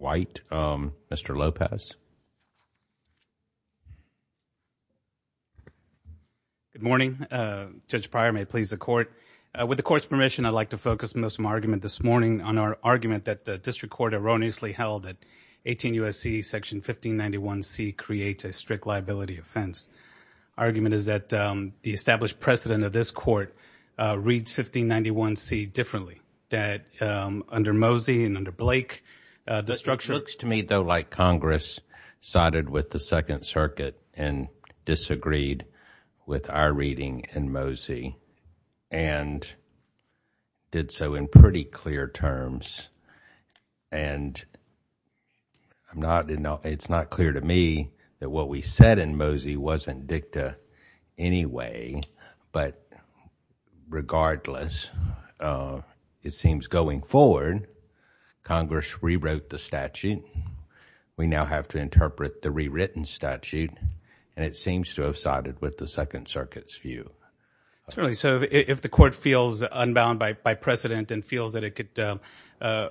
Mr. Lopez. Good morning. Judge Pryor, may it please the court. With the court's permission, I'd like to focus most of my argument this morning on our argument that the district court erroneously held that 18 U.S.C. section 1591C creates a strict liability offense. Argument is that the established precedent of this court reads 1591C differently, that under Mosey and under Blake, the structure looks to me, though, like Congress sided with the Second Circuit and disagreed with our reading in Mosey and did so in pretty clear terms. And I'm not, you know, it's not clear to me that what we said in Mosey wasn't dicta anyway, but regardless, uh, it seems going forward, Congress rewrote the statute. We now have to interpret the rewritten statute, and it seems to have sided with the Second Circuit's view. Jermayne Whyte Certainly, so if the court feels unbound by precedent and feels that it could, uh, uh,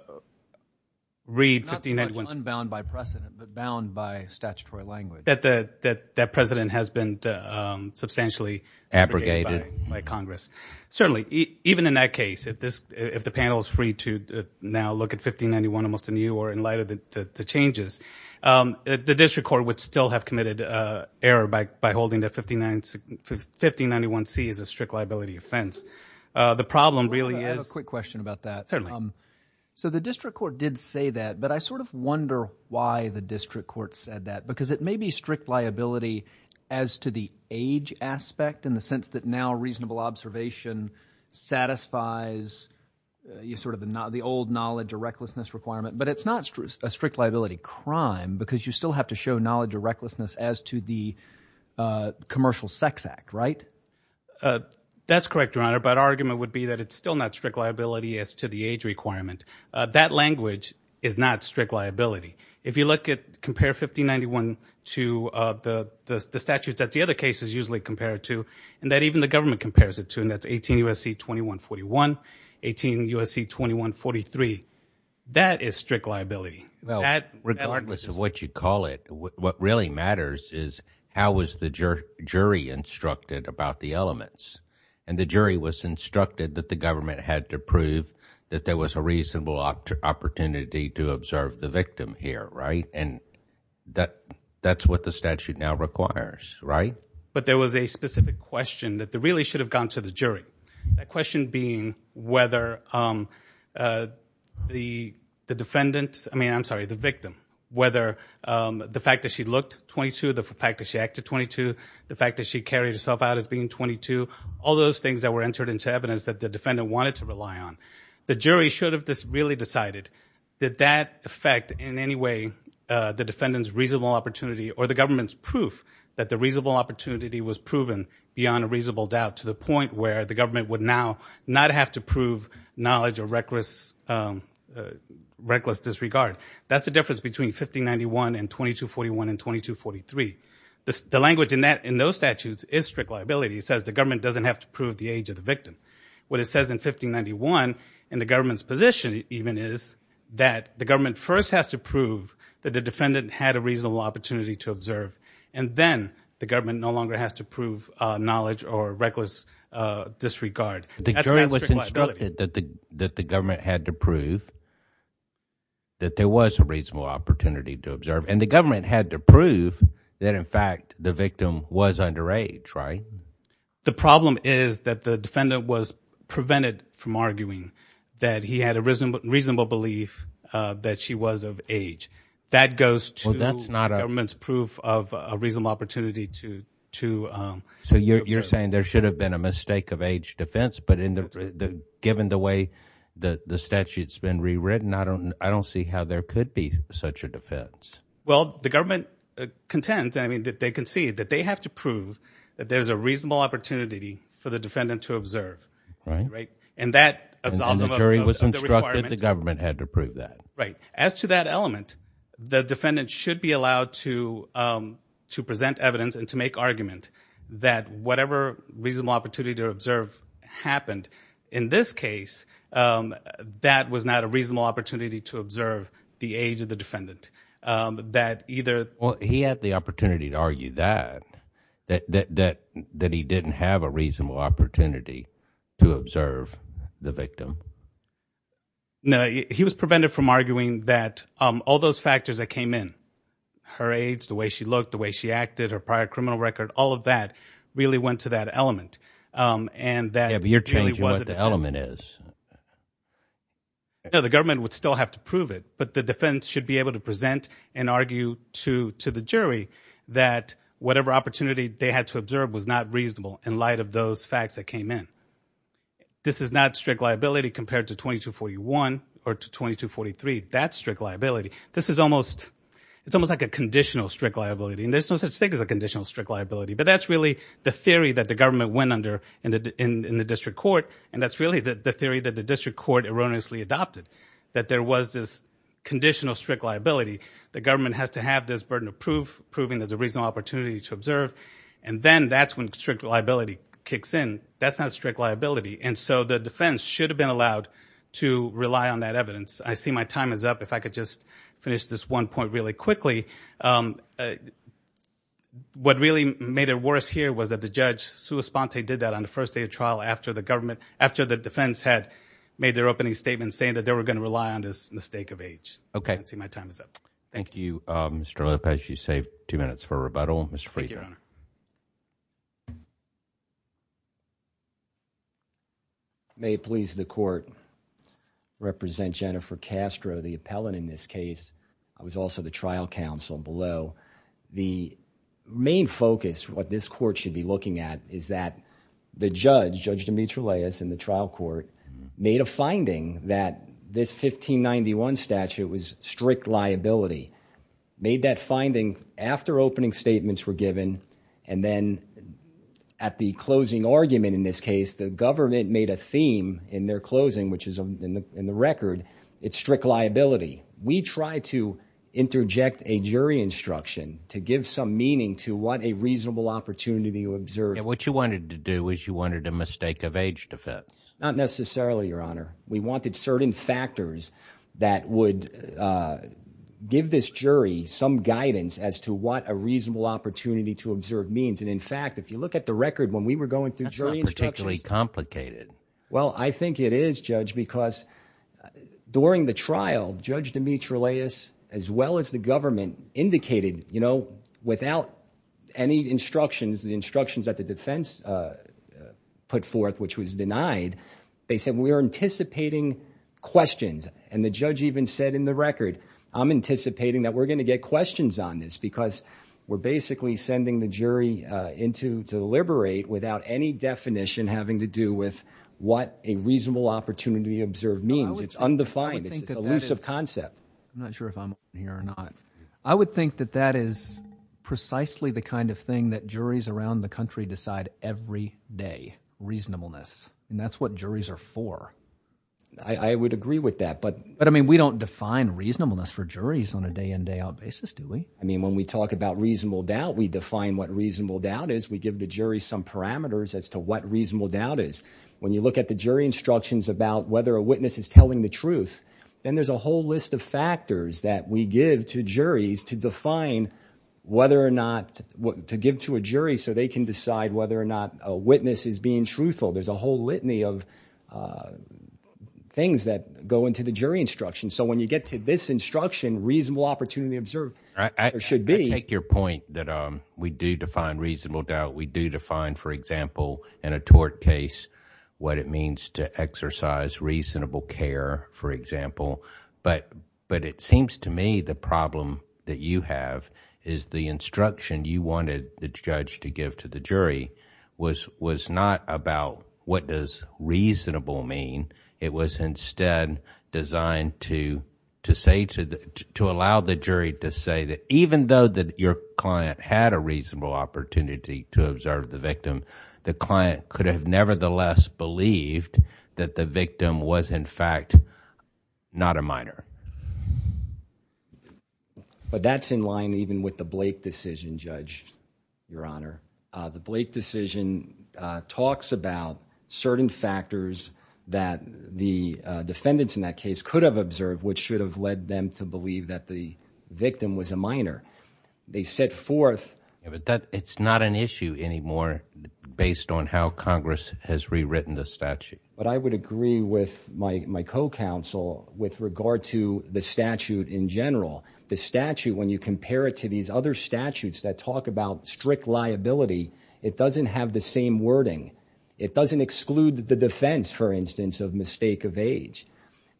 read 1591C... Judge Pryor Not so much unbound by precedent, but bound by statutory language. Jermayne Whyte That, that precedent has been, um, substantially Judge Pryor Abrogated. Jermayne Whyte... abrogated by Congress. Certainly, even in that case, if this, if the panel is free to now look at 1591 almost anew or in light of the changes, um, the district court would still have committed, uh, error by, by holding that 1591C is a strict liability offense. Uh, the problem really is... Judge Pryor I have a quick question about that. Jermayne Whyte Certainly. Judge Pryor So the district court did say that, but I sort of wonder why the district court said that, because it may be strict liability as to the age aspect in the sense that now reasonable observation satisfies, uh, you sort of, the old knowledge or recklessness requirement, but it's not a strict liability crime because you still have to show knowledge or recklessness as to the, uh, Commercial Sex Act, right? Jermayne Whyte Uh, that's correct, Your Honor, but argument would be that it's still not strict liability as to the age requirement. Uh, that language is not strict liability. If you look at, compare 1591 to, uh, the, the, the statutes that the other cases usually compare it to and that even the government compares it to and that's 18 U.S.C. 2141, 18 U.S.C. 2143, that is strict liability. Judge Pryor Well, regardless of what you call it, what really matters is how was the jury instructed about the elements? And the jury was instructed that the government had to prove that there was a reasonable opportunity to observe the victim here, right? And that, that's what the statute now requires, right? Jermayne Whyte But there was a specific question that really should have gone to the jury. That question being whether, um, uh, the, the defendant, I mean, I'm sorry, the victim, whether, um, the fact that she looked 22, the fact that she acted 22, the fact that she carried herself out as being 22, all those things that were entered into evidence that the defendant wanted to rely on. The jury should have just really decided, did that affect in any way, uh, the defendant's reasonable opportunity or the government's proof that the reasonable opportunity was proven beyond a reasonable doubt to the point where the government would now not have to prove knowledge or reckless, um, reckless disregard. That's the difference between 1591 and 2241 and 2243. The, the language in that, in those statutes is strict liability. It says the government doesn't have to prove the age of the victim. What it says in 1591 and the government's position even is that the government first has to prove that the defendant had a reasonable opportunity to observe and then the government no longer has to prove, uh, knowledge or reckless, uh, Jermayne Whyte The jury was instructed that the, that the government had to prove that there was a reasonable opportunity to observe and the government had to prove that in fact the victim was underage, right? The problem is that the defendant was prevented from arguing that he had a reasonable, reasonable belief, uh, that she was of age. That goes to the government's proof of a reasonable opportunity to, to, um, Jermayne Whyte So you're, you're saying there should have been a mistake of age defense, but in the, the, given the way that the statute's been rewritten, I don't, I don't see how there could be such a defense. Jermayne Whyte Well, the government contends, I mean, that they concede that they have to prove that there's a reasonable opportunity for the defendant to observe, right? And that Jermayne Whyte And the jury was instructed the government had to prove that. Jermayne Whyte Right. As to that element, the defendant should be allowed to, um, to present evidence and to make argument that whatever reasonable opportunity to observe happened in this case, um, that was not a reasonable opportunity to observe the age of the defendant, um, that either Jermayne Whyte Well, he had the opportunity to argue that, that, that, that he didn't have a reasonable opportunity to observe the victim. Jermayne Whyte No, he was prevented from arguing that, um, all those factors that came in, her age, the way she looked, the way she acted, her prior criminal record, all of that really went to that element, um, and that Jermayne Whyte Yeah, but you're changing what the element is. Jermayne Whyte No, the government would still have to prove it, but the defendant should be able to present and argue to, to the jury that whatever opportunity they had to observe was not reasonable in light of those facts that came in. This is not strict liability compared to 2241 or to 2243, that's strict liability. This is almost, it's almost like a conditional strict liability, and there's no such thing as a conditional strict liability, but that's really the theory that the government went under in the, in, in the district court, and that's really the, the theory that the district court erroneously adopted, that there was this conditional strict liability. The government has to have this burden of proof, proving there's a reasonable opportunity to observe, and then that's when strict liability kicks in. That's not strict liability, and so the defense should have been allowed to rely on that evidence. I see my time is up. If I could just finish this one point really quickly, um, uh, what really made it worse here was that the judge, Sue Esponte, did that on the first day of trial after the government, the defense had made their opening statement saying that they were going to rely on this mistake of age. Okay. I see my time is up. Thank you, um, Mr. Lopez. You saved two minutes for a rebuttal. Mr. Friedman. Thank you, Your Honor. May it please the court, represent Jennifer Castro, the appellant in this case, who is also the trial counsel below. The main focus, what this court should be looking at, is that the judge, Judge Demetriou Leas in the trial court, made a finding that this 1591 statute was strict liability. Made that finding after opening statements were given, and then at the closing argument in this case, the government made a theme in their closing, which is in the record, it's strict liability. We try to interject a jury instruction to give some meaning to what a reasonable opportunity to observe. Yeah, what you wanted to do is you wanted a mistake of age defense. Not necessarily, Your Honor. We wanted certain factors that would give this jury some guidance as to what a reasonable opportunity to observe means, and in fact, if you look at the record when we were going through jury instructions. That's not particularly complicated. Well, I think it is, Judge, because during the trial, Judge Demetriou Leas, as well as the government, indicated, you know, without any instructions, the instructions that the defense put forth, which was denied, they said, we are anticipating questions, and the judge even said in the record, I'm anticipating that we're going to get questions on this because we're basically sending the jury in to deliberate without any definition having to do with what a reasonable opportunity to observe means. It's undefined. It's an elusive concept. I'm not sure if I'm on here or not. I would think that that is precisely the kind of thing that juries around the country decide every day, reasonableness, and that's what juries are for. I would agree with that, but. But, I mean, we don't define reasonableness for juries on a day-in, day-out basis, do we? I mean, when we talk about reasonable doubt, we define what reasonable doubt is. We give the jury some parameters as to what reasonable doubt is. When you look at the jury instructions about whether a witness is telling the truth, then there's a whole list of factors that we give to juries to define whether or not, to give to a jury so they can decide whether or not a witness is being truthful. There's a whole litany of things that go into the jury instructions. So, when you get to this instruction, reasonable opportunity to observe, there should be. I take your point that we do define reasonable doubt. We do define, for example, in a tort case, what it means to exercise reasonable care, for example, but it seems to me the problem that you have is the instruction you wanted the judge to give to the jury was not about what does reasonable mean. It was instead designed to allow the jury to say that even though that your client had a reasonable opportunity to observe the victim, the client could have nevertheless believed that the victim was, in fact, not a minor. But that's in line even with the Blake decision, Judge, Your Honor. The Blake decision talks about certain factors that the defendants in that case could have observed which should have led them to believe that the victim was a minor. They set forth... But I would agree with my co-counsel with regard to the statute in general. The statute, when you compare it to these other statutes that talk about strict liability, it doesn't have the same wording. It doesn't exclude the defense, for instance, of mistake of age.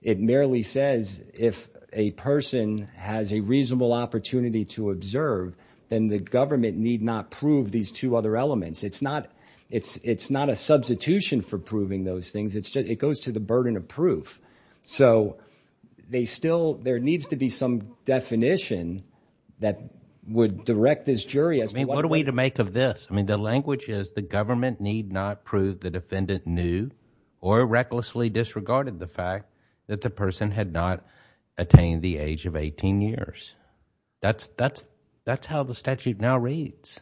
It merely says if a person has a reasonable opportunity to observe, then the government need not prove these two other elements. It's not a substitution for proving those things. It goes to the burden of proof. There needs to be some definition that would direct this jury as to what... What are we to make of this? The language is the government need not prove the defendant knew or recklessly disregarded the fact that the person had not attained the age of 18 years. That's how the statute now reads.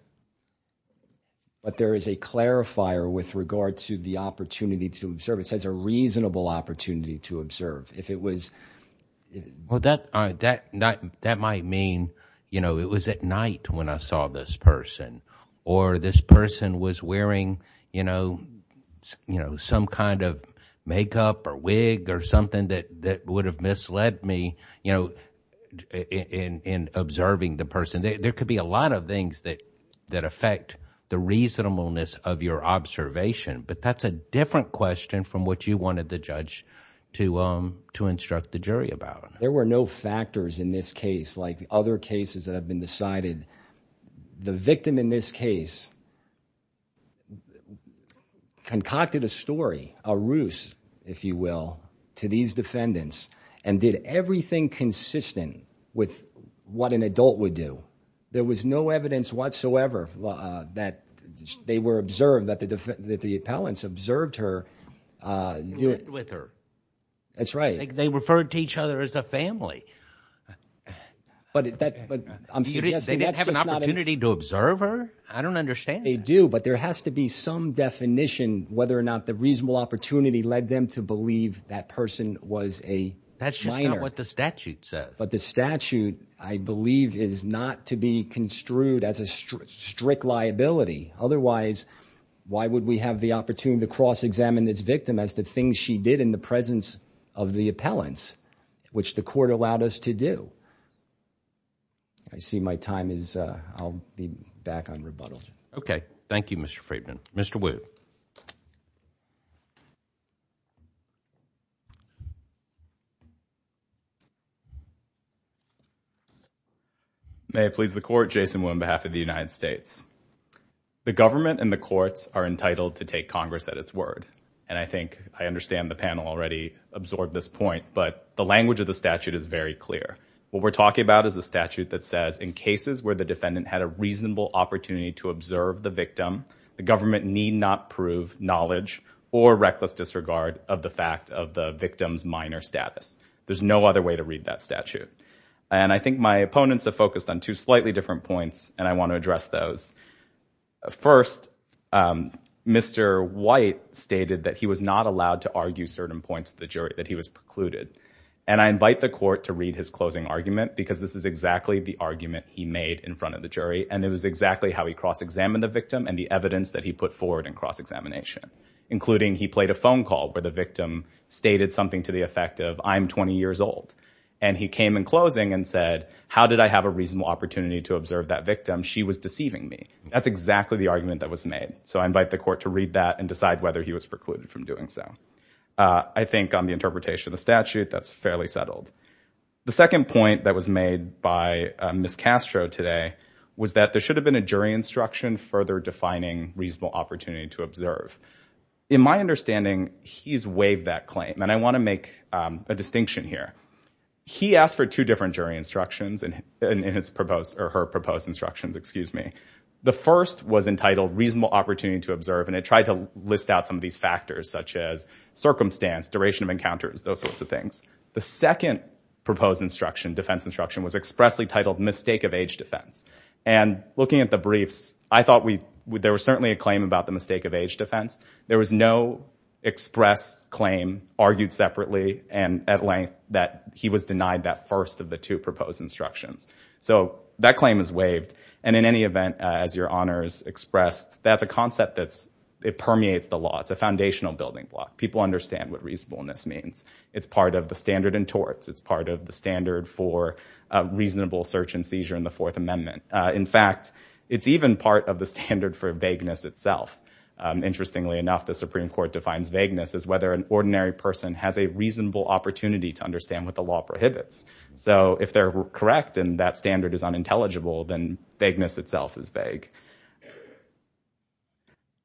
But there is a clarifier with regard to the opportunity to observe. It says a reasonable opportunity to observe. If it was... Well, that might mean it was at night when I saw this person or this person was wearing some kind of makeup or wig or something that would have misled me in observing the person. There could be a lot of things that affect the reasonableness of your observation, but that's a different question from what you wanted the judge to instruct the jury about. There were no factors in this case like other cases that have been decided. The victim in this case concocted a story, a ruse, if you will, to these defendants and did everything consistent with what an adult would do. There was no evidence whatsoever that they were observed, that the appellants observed her... They lived with her. That's right. They referred to each other as a family. But I'm suggesting... They didn't have an opportunity to observe her? I don't understand that. They do, but there has to be some definition whether or not the reasonable opportunity led them to believe that person was a liar. That's just not what the statute says. But the statute, I believe, is not to be construed as a strict liability. Otherwise, why would we have the opportunity to cross-examine this victim as to things she did in the presence of the appellants, which the court allowed us to do? I see my time is... I'll be back on rebuttal. Okay. Thank you, Mr. Friedman. Mr. Wood? May it please the Court, Jason Wood on behalf of the United States. The government and the courts are entitled to take Congress at its word, and I think I understand the panel already absorbed this point, but the language of the statute is very clear. What we're talking about is a statute that says, in cases where the defendant had a reasonable opportunity to observe the victim, the government need not prove knowledge or reckless disregard of the fact of the victim's minor status. There's no other way to read that statute. And I think my opponents have focused on two slightly different points, and I want to address those. First, Mr. White stated that he was not allowed to argue certain points of the jury, that he was precluded. And I invite the court to read his closing argument, because this is exactly the argument he made in front of the jury, and it was exactly how he cross-examined the victim and the evidence that he put forward in cross-examination, including he played a phone call where the victim stated something to the effect of, I'm 20 years old. And he came in closing and said, how did I have a reasonable opportunity to observe that victim? She was deceiving me. That's exactly the argument that was made. So I invite the court to read that and decide whether he was precluded from doing so. I think on the interpretation of the statute, that's fairly settled. The second point that was made by Ms. Castro today was that there should have been a jury instruction further defining reasonable opportunity to observe. In my understanding, he's waived that claim, and I want to make a distinction here. He asked for two different jury instructions in his proposed, or her proposed instructions, excuse me. The first was entitled reasonable opportunity to observe, and it tried to list out some of these factors, such as circumstance, duration of encounters, those sorts of things. The second proposed instruction, defense instruction, was expressly titled mistake of age defense. And looking at the briefs, I thought we, there was certainly a claim about the mistake of age defense. There was no express claim argued separately and at length that he was denied that first of the two proposed instructions. So that claim is waived. And in any event, as your honors expressed, that's a concept that's, it permeates the law. It's a foundational building block. People understand what reasonableness means. It's part of the standard in torts. It's part of the standard for reasonable search and seizure in the Fourth Amendment. In fact, it's even part of the standard for vagueness itself. Interestingly enough, the Supreme Court defines vagueness as whether an ordinary person has a reasonable opportunity to understand what the law prohibits. So if they're correct and that standard is unintelligible, then vagueness itself is vague.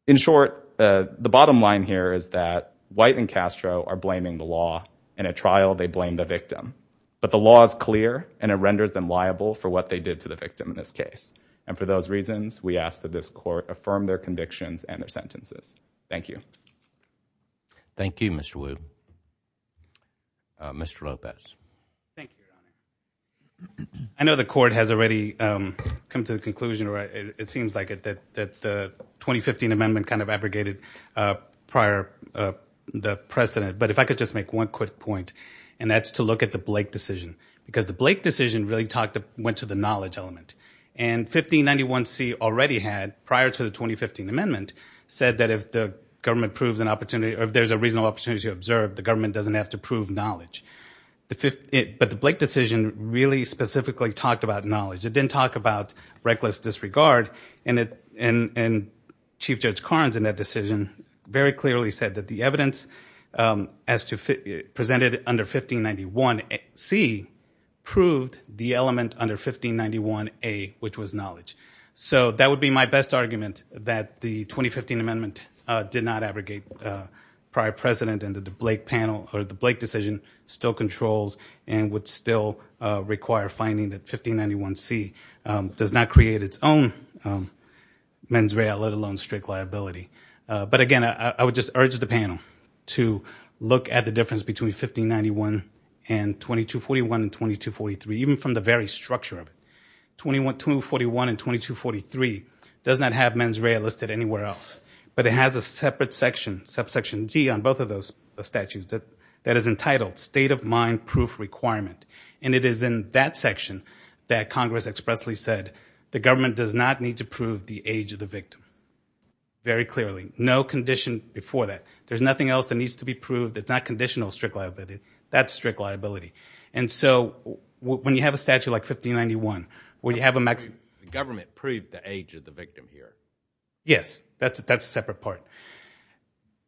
In short, the bottom line here is that White and Castro are blaming the law. In a trial, they blame the victim. But the law is clear and it renders them liable for what they did to the victim in this case. And for those reasons, we ask that this court affirm their convictions and their sentences. Thank you. Thank you, Mr. Wu. Mr. Lopez. Thank you, Your Honor. I know the court has already come to the conclusion. It seems like it, that the 2015 Amendment kind of abrogated prior the precedent. But if I could just make one quick point, and that's to look at the Blake decision. Because the Blake decision really went to the knowledge element. And 1591C already had, prior to the 2015 Amendment, said that if the government proves an opportunity or if there's a reasonable opportunity to observe, the government doesn't have to prove knowledge. But the Blake decision really specifically talked about knowledge. It didn't talk about reckless disregard. And Chief Judge Karnes, in that decision, very clearly said that the evidence presented under 1591C proved the element under 1591A, which was knowledge. So that would be my best argument, that the 2015 Amendment did not abrogate prior precedent and that the Blake panel, or the Blake decision, still controls and would still require finding that 1591C does not create its own mens rea, let alone strict liability. But again, I would just urge the panel to look at the difference between 1591 and 2241 and 2243, even from the very structure of it. 2141 and 2243 does not have mens rea listed anywhere else. But it has a separate section, subsection D on both of those statutes, that is entitled state of mind proof requirement. And it is in that section that Congress expressly said, the government does not need to prove the age of the victim. Very clearly. No condition before that. There's nothing else that needs to be proved that's not conditional strict liability. That's strict liability. And so, when you have a statute like 1591, where you have a maximum... The government proved the age of the victim here. Yes. That's a separate part.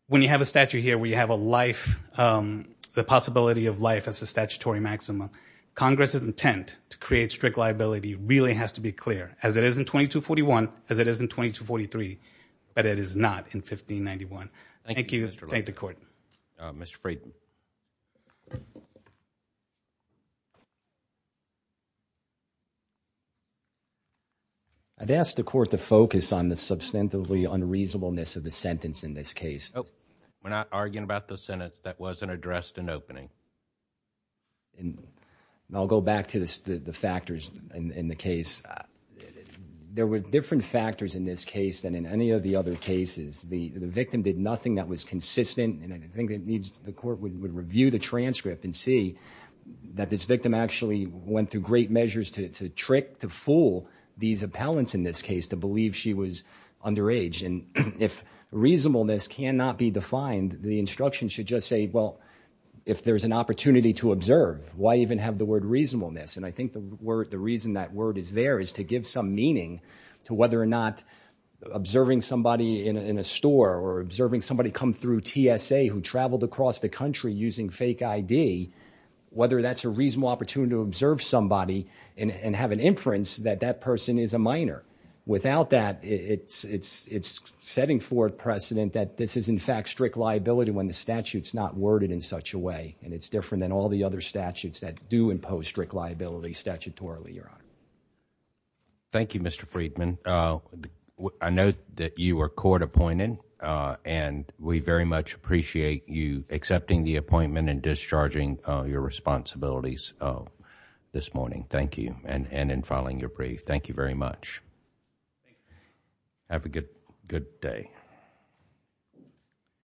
When you have a statute here where you have a life, the possibility of life as a statutory maximum, Congress's intent to create strict liability really has to be clear. As it is in 2241, as it is in 2243. But it is not in 1591. Thank you. Thank the court. Mr. Freedman. I'd ask the court to focus on the substantively unreasonableness of the sentence in this case. Nope. We're not arguing about the sentence that wasn't addressed in opening. I'll go back to the factors in the case. There were different factors in this case than in any of the other cases. The victim did nothing that was consistent, and I think the court would review the transcript and see that this victim actually went through great measures to trick, to fool these appellants in this case to believe she was underage. If reasonableness cannot be defined, the instruction should just say, well, if there's an opportunity to observe, why even have the word reasonableness? I think the reason that word is there is to give some meaning to whether or not observing somebody in a store or observing somebody come through TSA who traveled across the country using fake ID, whether that's a reasonable opportunity to observe somebody and have an inference that that person is a minor. Without that, it's setting forth precedent that this is, in fact, strict liability when the statute's not worded in such a way, and it's different than all the other statutes that do impose strict liability statutorily, Your Honor. Thank you, Mr. Friedman. I note that you were court appointed, and we very much appreciate you accepting the appointment and discharging your responsibilities this morning. Thank you, and in filing your brief. Thank you very much. Have a good, good day.